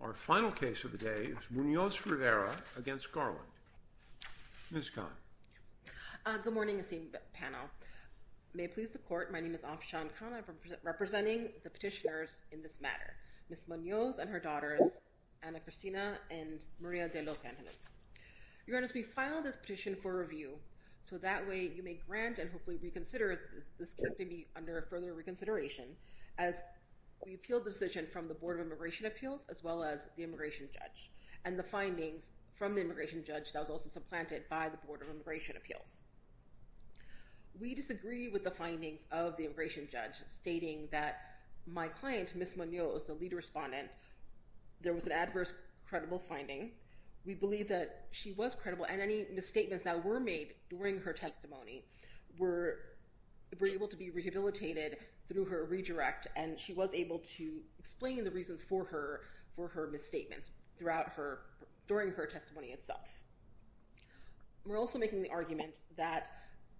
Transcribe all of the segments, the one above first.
Our final case of the day is Munoz-Rivera v. Garland. Ms. Khan. Good morning esteemed panel. May it please the court, my name is Afshan Khan. I'm representing the petitioners in this matter, Ms. Munoz and her daughters, Ana Cristina and Maria de los Angeles. Your Honor, we filed this petition for review, so that way you may grant and hopefully reconsider this case may be under further reconsideration as we appealed the decision from the Board of Immigration Appeals as well as the immigration judge and the findings from the immigration judge that was also supplanted by the Board of Immigration Appeals. We disagree with the findings of the immigration judge stating that my client, Ms. Munoz, the lead respondent, there was an adverse credible finding. We believe that she was credible and any misstatements that were made during her testimony were able to be rehabilitated through her redirect and she was able to explain the reasons for her misstatements during her testimony itself. We're also making the argument that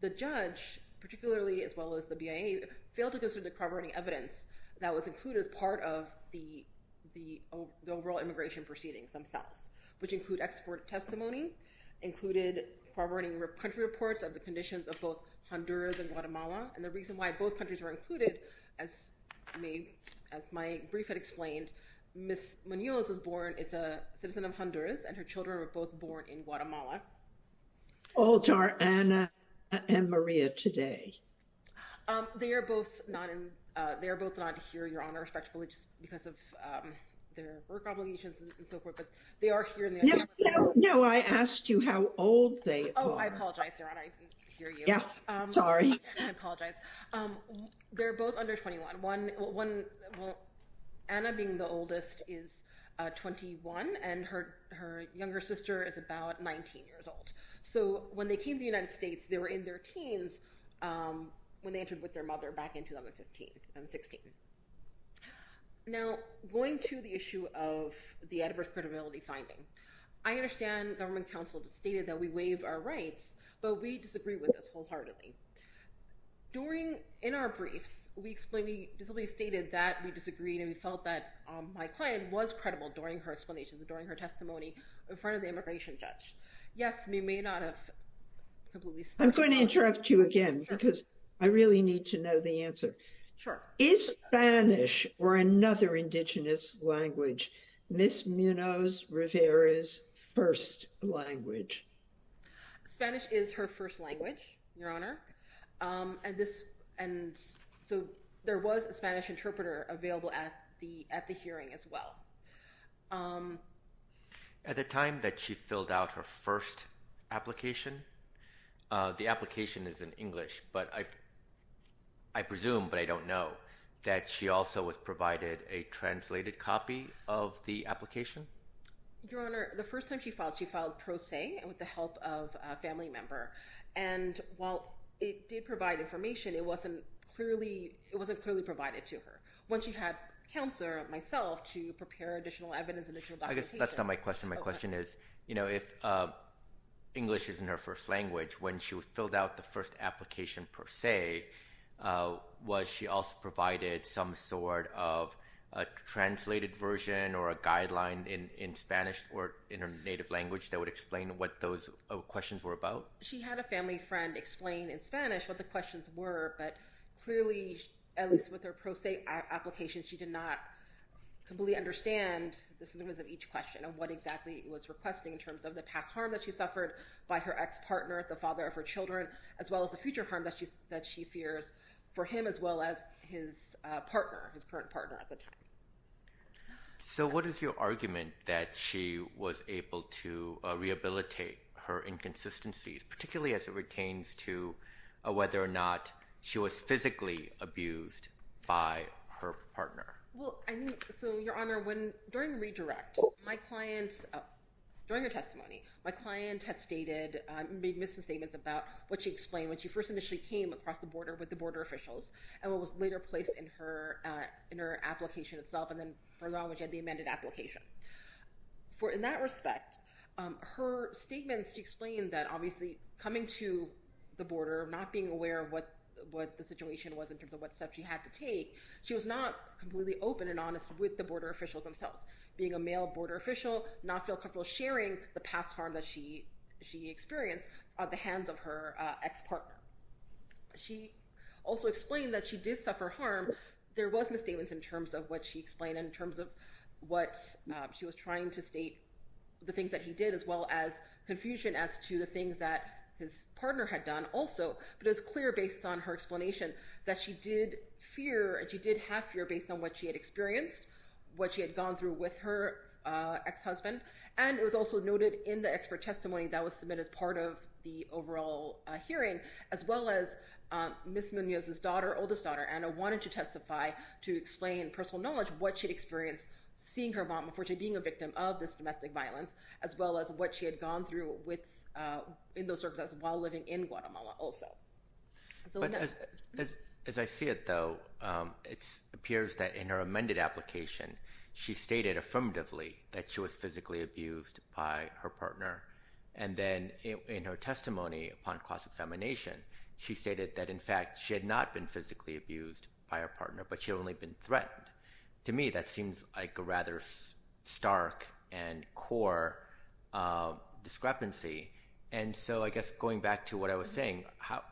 the judge, particularly as well as the BIA, failed to consider the corroborating evidence that was included as part of the overall immigration proceedings themselves, which include export testimony, included corroborating country reports of the conditions of both Honduras and Guatemala and the reason why both countries were included, as my brief had explained, Ms. Munoz was born, is a citizen of Honduras and her children were both born in Guatemala. Olds are Anna and Maria today. They are both not here, Your Honor, respectfully, just because of their work obligations and so forth, but they are here. No, I asked you how old they are. Oh, I apologize, Your Honor, I didn't hear you. Yeah, sorry. I apologize. They're both under 21. Anna, being the oldest, is 21 and her younger sister is about 19 years old. So when they came to the United States, they were in their teens when they entered with their mother back in 2015 and 16. Now, going to the issue of the adverse credibility finding, I understand government counsel stated that we waive our rights, but we disagree with this wholeheartedly. During, in our briefs, we explained, we basically stated that we disagreed and we felt that my client was credible during her explanation, during her testimony in front of the immigration judge. Yes, we may not have. I'm going to interrupt you again because I really need to know the answer. Is Spanish or another indigenous language, Ms. Munoz Rivera's first language? Spanish is her first language, Your Honor. And this, and so there was a Spanish interpreter available at the hearing as well. At the time that she filled out her first application, the application is in English, but I presume, but I don't know, that she also was provided a translated copy of the application? Your Honor, the first time she filed, she filed per se with the help of a family member. And while it did provide information, it wasn't clearly, it wasn't clearly provided to her. When she had counselor, myself, to prepare additional evidence, additional documentation. I guess that's not my question. My question is, you know, if English is in her first language, when she was filled out the first application per se, was she also provided some sort of a translated version or a guideline in Spanish or in her native language that would explain what those questions were about? She had a family friend explain in Spanish what the questions were, but clearly, at least with her per se application, she did not completely understand the significance of each question of what exactly it was requesting in terms of the past harm that she suffered by her ex-partner, the father of her children, as well as the future harm that she fears for him, as well as his partner, his current partner at the time. So what is your argument that she was able to rehabilitate her inconsistencies, particularly as it pertains to whether or not she was physically abused by her partner? Well, I mean, so Your Honor, when, during the redirect, my client, during her testimony, my client had stated, made misstatements about what she explained when she first initially came across the border with the border officials and what was later placed in her application itself, and then further on when she had the amended application. In that respect, her statements, she explained that obviously coming to the border, not being aware of what the situation was in terms of what steps she had to take, she was not completely open and honest with the border officials themselves. Being a male border official, not feel comfortable sharing the past harm that she experienced at the hands of her ex-partner. She also explained that she did suffer harm. There was misstatements in terms of what she explained in terms of what she was trying to state, the things that he did, as well as confusion as to the things that his partner had done also. But it was clear based on her explanation that she did fear and she did have fear based on what she had experienced, what she had gone through with her ex-husband. And it was also noted in the expert testimony that was submitted as part of the overall hearing, as well as Ms. Munoz's daughter, oldest daughter, Ana wanted to testify to explain personal knowledge what she experienced seeing her mom before she being a victim of this domestic violence, as well as what she had gone through in those circumstances while living in Guatemala also. But as I see it though, it appears that in her amended application, she stated affirmatively that she was physically abused by her partner. And then in her testimony upon cross-examination, she stated that in fact, she had not been physically abused by her partner, but she had only been threatened. To me, that seems like a rather stark and core discrepancy. And so I guess going back to what I was saying, how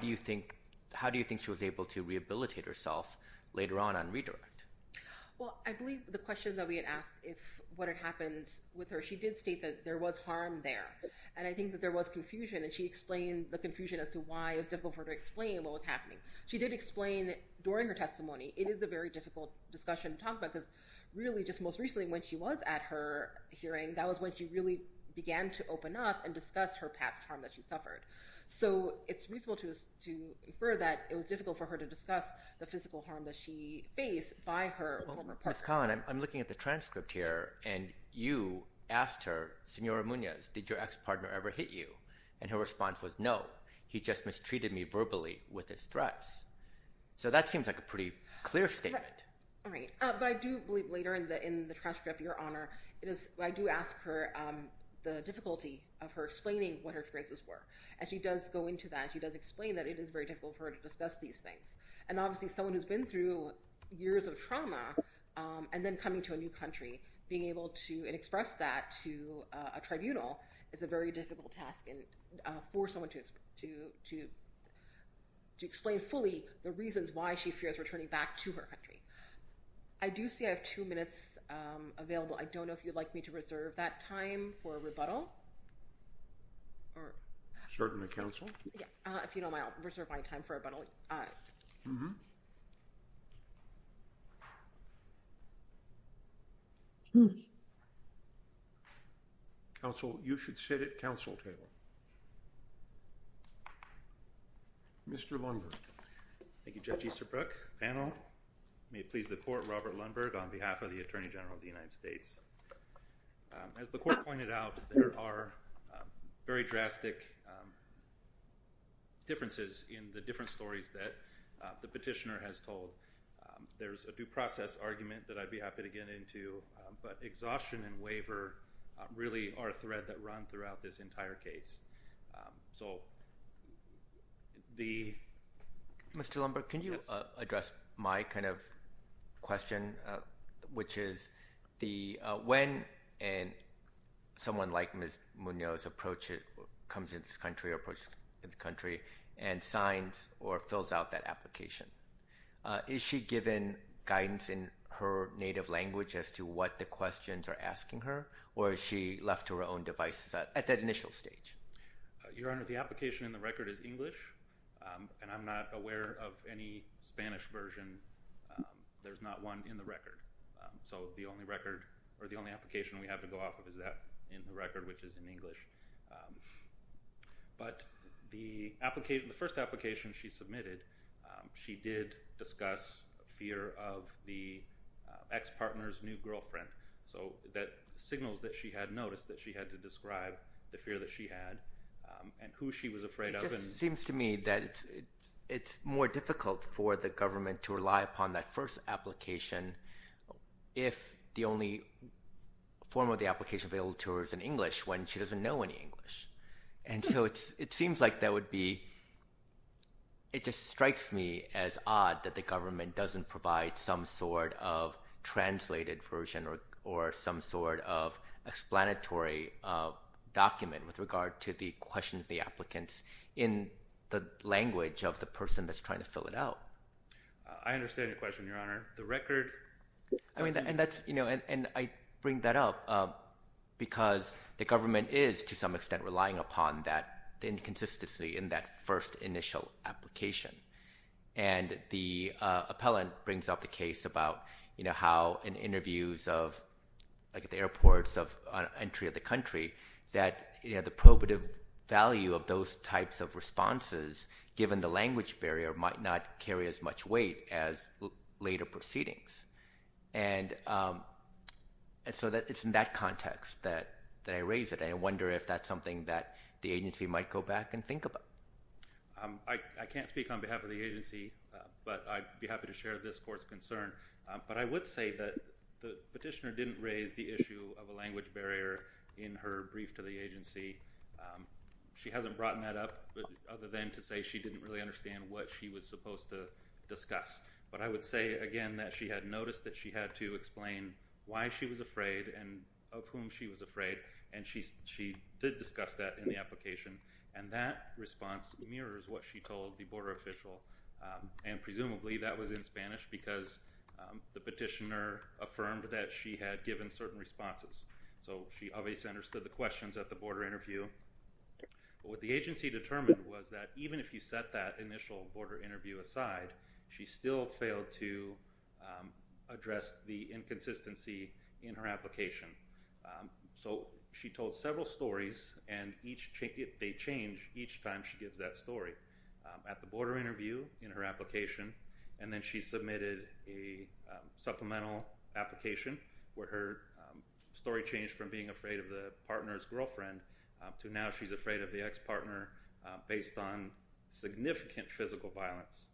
do you think she was able to rehabilitate herself later on on redirect? Well, I believe the question that we had asked if what had happened with her, she did state that there was harm there. And I think that there was confusion and she explained the confusion as to why it was difficult for her to explain what was happening. She did explain during her testimony, it is a very difficult discussion to talk about because really just most recently when she was at her hearing, that was when she really began to open up and discuss her past harm that she suffered. So it's reasonable to infer that it was difficult for her to discuss the physical harm that she faced by her former partner. Ms. Cohn, I'm looking at the transcript here and you asked her, Senora Munoz, did your ex-partner ever hit you? And her response was, no, he just mistreated me verbally with his threats. So that seems like a pretty clear statement. All right. But I do believe later in the transcript, Your Honor, I do ask her the difficulty of her explaining what her threats were. And she does go into that. She does explain that it is very difficult for her to discuss these things. And obviously someone who's been through years of trauma and then coming to a new country, being able to express that to a tribunal is a very difficult task and for someone to explain fully the reasons why she fears returning back to her country. I do see I have two minutes available. I don't know if you'd like me to reserve that time for a rebuttal or... Mm-hmm. Counsel, you should sit at counsel table. Mr. Lundberg. Thank you, Judge Easterbrook. Panel, may it please the court, Robert Lundberg on behalf of the Attorney General of the United States. As the court pointed out, there are very drastic differences in the different stories that the petitioner has told. There's a due process argument that I'd be happy to get into, but exhaustion and waiver really are a thread that run throughout this entire case. So the... Mr. Lundberg, can you address my kind of question, which is when someone like Ms. Munoz approaches, comes into this country or approaches the country and signs or fills out that application, is she given guidance in her native language as to what the questions are asking her or is she left to her own devices at that initial stage? Your Honor, the application in the record is English and I'm not aware of any Spanish version. There's not one in the record. So the only record or the only application we have to go off of is that in the record, which is in English. But the first application she submitted, she did discuss fear of the ex-partner's new girlfriend. So that signals that she had noticed that she had to describe the fear that she had and who she was afraid of. It just seems to me that it's more difficult for the government to rely upon that first application if the only form of the application available to her is in English when she doesn't know English. And so it seems like that would be, it just strikes me as odd that the government doesn't provide some sort of translated version or some sort of explanatory document with regard to the questions, the applicants in the language of the person that's trying to fill it out. I understand your question, Your Honor. The record... and I bring that up because the government is to some extent relying upon that inconsistency in that first initial application. And the appellant brings up the case about how in interviews of, like at the airports of entry of the country, that the probative value of those types of responses, given the language barrier, might not carry as much weight as later proceedings. And so it's in that context that I raise it. I wonder if that's something that the agency might go back and think about. I can't speak on behalf of the agency, but I'd be happy to share this court's concern. But I would say that the petitioner didn't raise the issue of a language barrier in her brief to the agency. She hasn't brought that up, but other than to say she didn't really understand what she was supposed to discuss. But I would say again, that she had noticed that she had to explain why she was afraid and of whom she was afraid. And she did discuss that in the application. And that response mirrors what she told the border official. And presumably that was in Spanish because the petitioner affirmed that she had given certain responses. So she obviously understood the questions at the border interview. But what the agency determined was that even if you set that initial border interview aside, she still failed to address the inconsistency in her application. So she told several stories and they change each time she gives that story. At the border interview in her application, and then she submitted a supplemental application where her story changed from being afraid of the partner's girlfriend to now she's afraid of the ex-partner based on significant physical violence.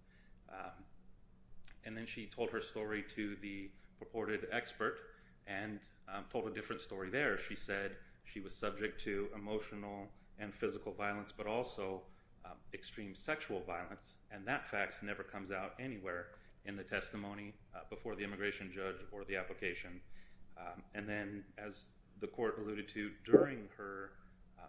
And then she told her story to the purported expert and told a different story there. She said she was subject to emotional and physical violence, but also extreme sexual violence. And that fact never comes out anywhere in the testimony before the immigration judge or the application. And then as the court alluded to during her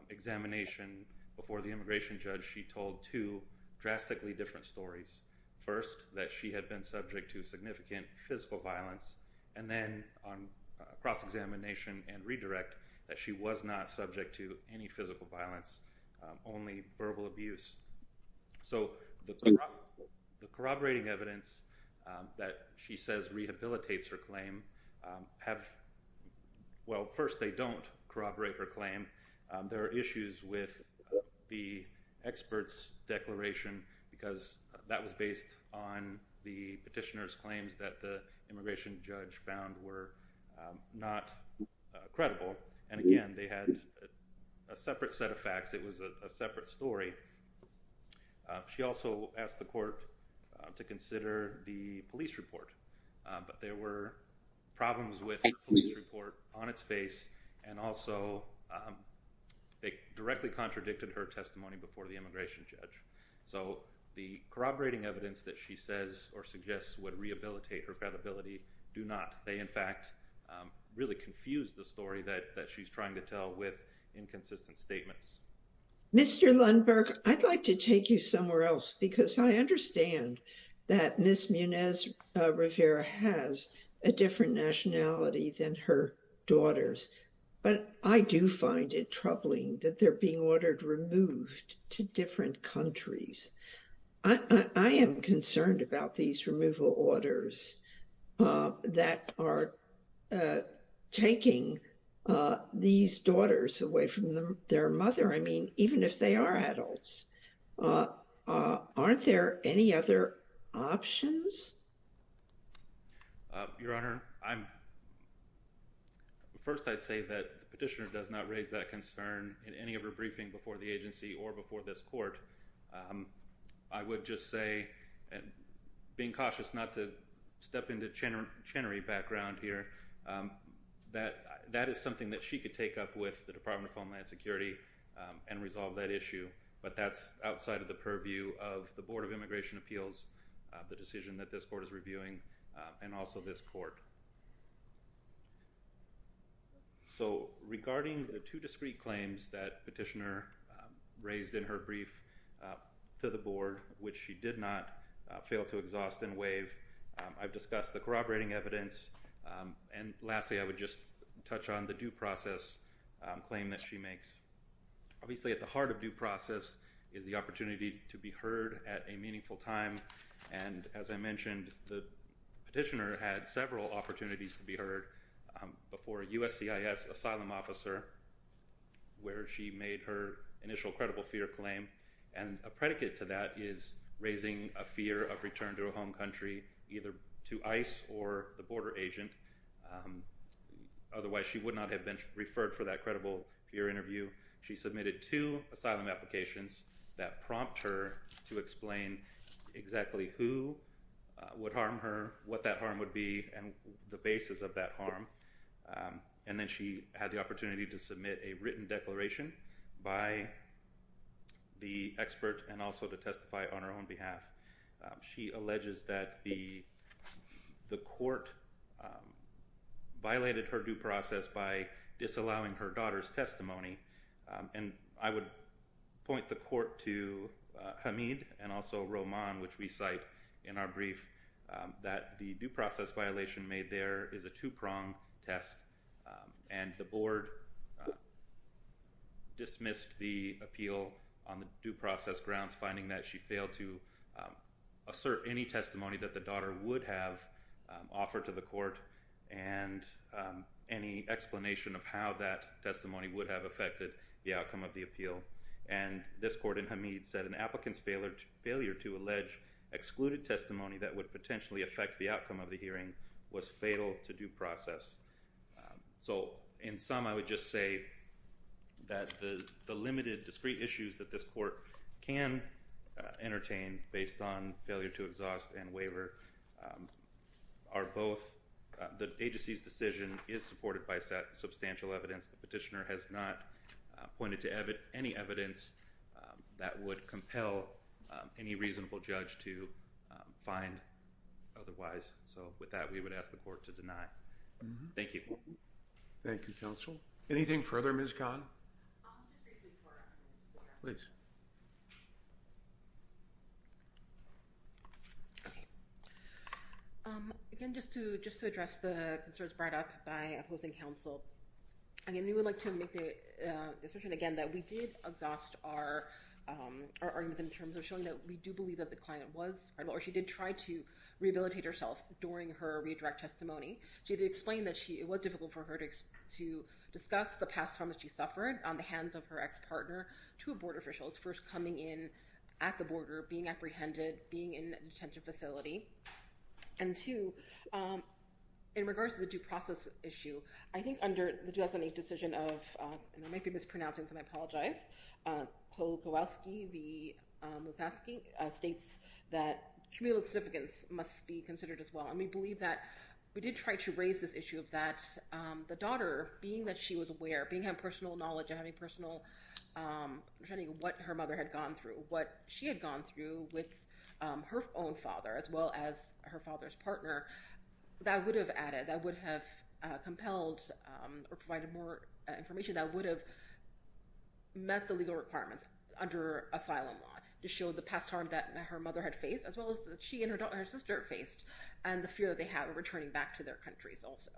examination before the immigration judge, she told two drastically different stories. First, that she had been subject to significant physical violence. And then on cross-examination and redirect that she was not subject to any physical violence, only verbal abuse. So the corroborating evidence that she says rehabilitates her claim have, well, first they don't corroborate her claim. There are issues with the expert's declaration because that was based on the petitioner's claims that the immigration judge found were not credible. And again, they had a separate set of facts. It was a separate story. She also asked the court to consider the police report, but there were problems with the police report on its face. And also they directly contradicted her testimony before the immigration judge. So the corroborating evidence that she says or suggests would rehabilitate her credibility do not. They in fact really confuse the story that she's trying to tell with inconsistent statements. Mr. Lundberg, I'd like to take you somewhere else because I understand that Ms. Munez-Rivera has a different nationality than her daughters, but I do find it troubling that they're being ordered removed to different countries. I am concerned about these removal orders that are taking these daughters away from their mother. I mean, even if they are adults, aren't there any other options? Your Honor, first I'd say that the petitioner does not raise that concern in any of her briefing before the agency or before this court. I would just say and being cautious not to step into Chenery background here, that that is something that she could take up with the Department of Homeland Security and resolve that issue. But that's outside of the purview of the Board of Immigration Appeals, the decision that this court is reviewing and also this court. So regarding the two discrete claims that petitioner raised in her brief to the Board, which she did not fail to exhaust and waive, I've discussed the corroborating evidence. And lastly, I would just touch on the due process claim that she makes. Obviously, at the heart of due process is the opportunity to be heard at a meaningful time. And as I mentioned, the petitioner had several opportunities to be heard before USCIS asylum officer, where she made her initial credible fear claim. And a predicate to that is raising a fear of return to a home country, either to ICE or the border agent. Otherwise, she would not have been referred for that credible fear interview. She submitted two asylum applications that prompt her to explain exactly who would harm her, what that harm would be and the basis of that harm. And then she had the opportunity to submit a written declaration by the expert and also to testify on her own behalf. She alleges that the court violated her due process by disallowing her daughter's testimony. And I would point the court to Hamid and also Roman, which we cite in our brief, that the due process violation made there is a two-prong test. And the board dismissed the appeal on the due process grounds, finding that she failed to assert any testimony that the daughter would have offered to the court and any explanation of how that testimony would have affected the outcome of the appeal. And this court in Hamid said an applicant's failure to allege excluded testimony that would potentially affect the outcome of the hearing was fatal to due process. So in sum, I would just say that the limited discrete issues that this court can entertain based on failure to exhaust and waiver are both the agency's decision is supported by substantial evidence. The petitioner has not pointed to any evidence that would compel any reasonable judge to find otherwise. So with that, we would ask the court to deny. Thank you. Thank you, counsel. Anything further Ms. Kahn? Again, just to address the concerns brought up by opposing counsel. Again, we would like to make the assertion again that we did exhaust our argument in terms of showing that we do believe that the client was or she did try to rehabilitate herself during her redirect testimony. She did explain that it was difficult for her to discuss the past trauma she suffered on the hands of her ex-partner, two board officials, first coming in at the border, being apprehended, being in a detention facility. And two, in regards to the due process issue, I think under the 2008 decision of, and I might be mispronouncing, so I apologize, Kowalski v. Mufasky states that communal significance must be considered as well. And we believe that we did try to raise this issue of that the daughter, being that she was aware, being her personal knowledge and having personal understanding of what her mother had gone through, what she had gone through with her own father as well as her father's partner, that would have added, that would have compelled or provided more information that would have met the legal requirements under asylum law to show the past harm that her mother had faced as well as she and her sister faced. And the fear that they have of returning back to their countries also.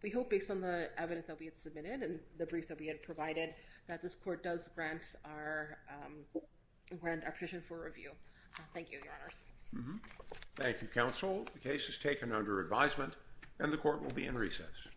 We hope based on the evidence that we had submitted and the briefs that we had provided that this court does grant our petition for review. Thank you, your honors. Thank you, counsel. The case is taken under advisement and the court will be in recess.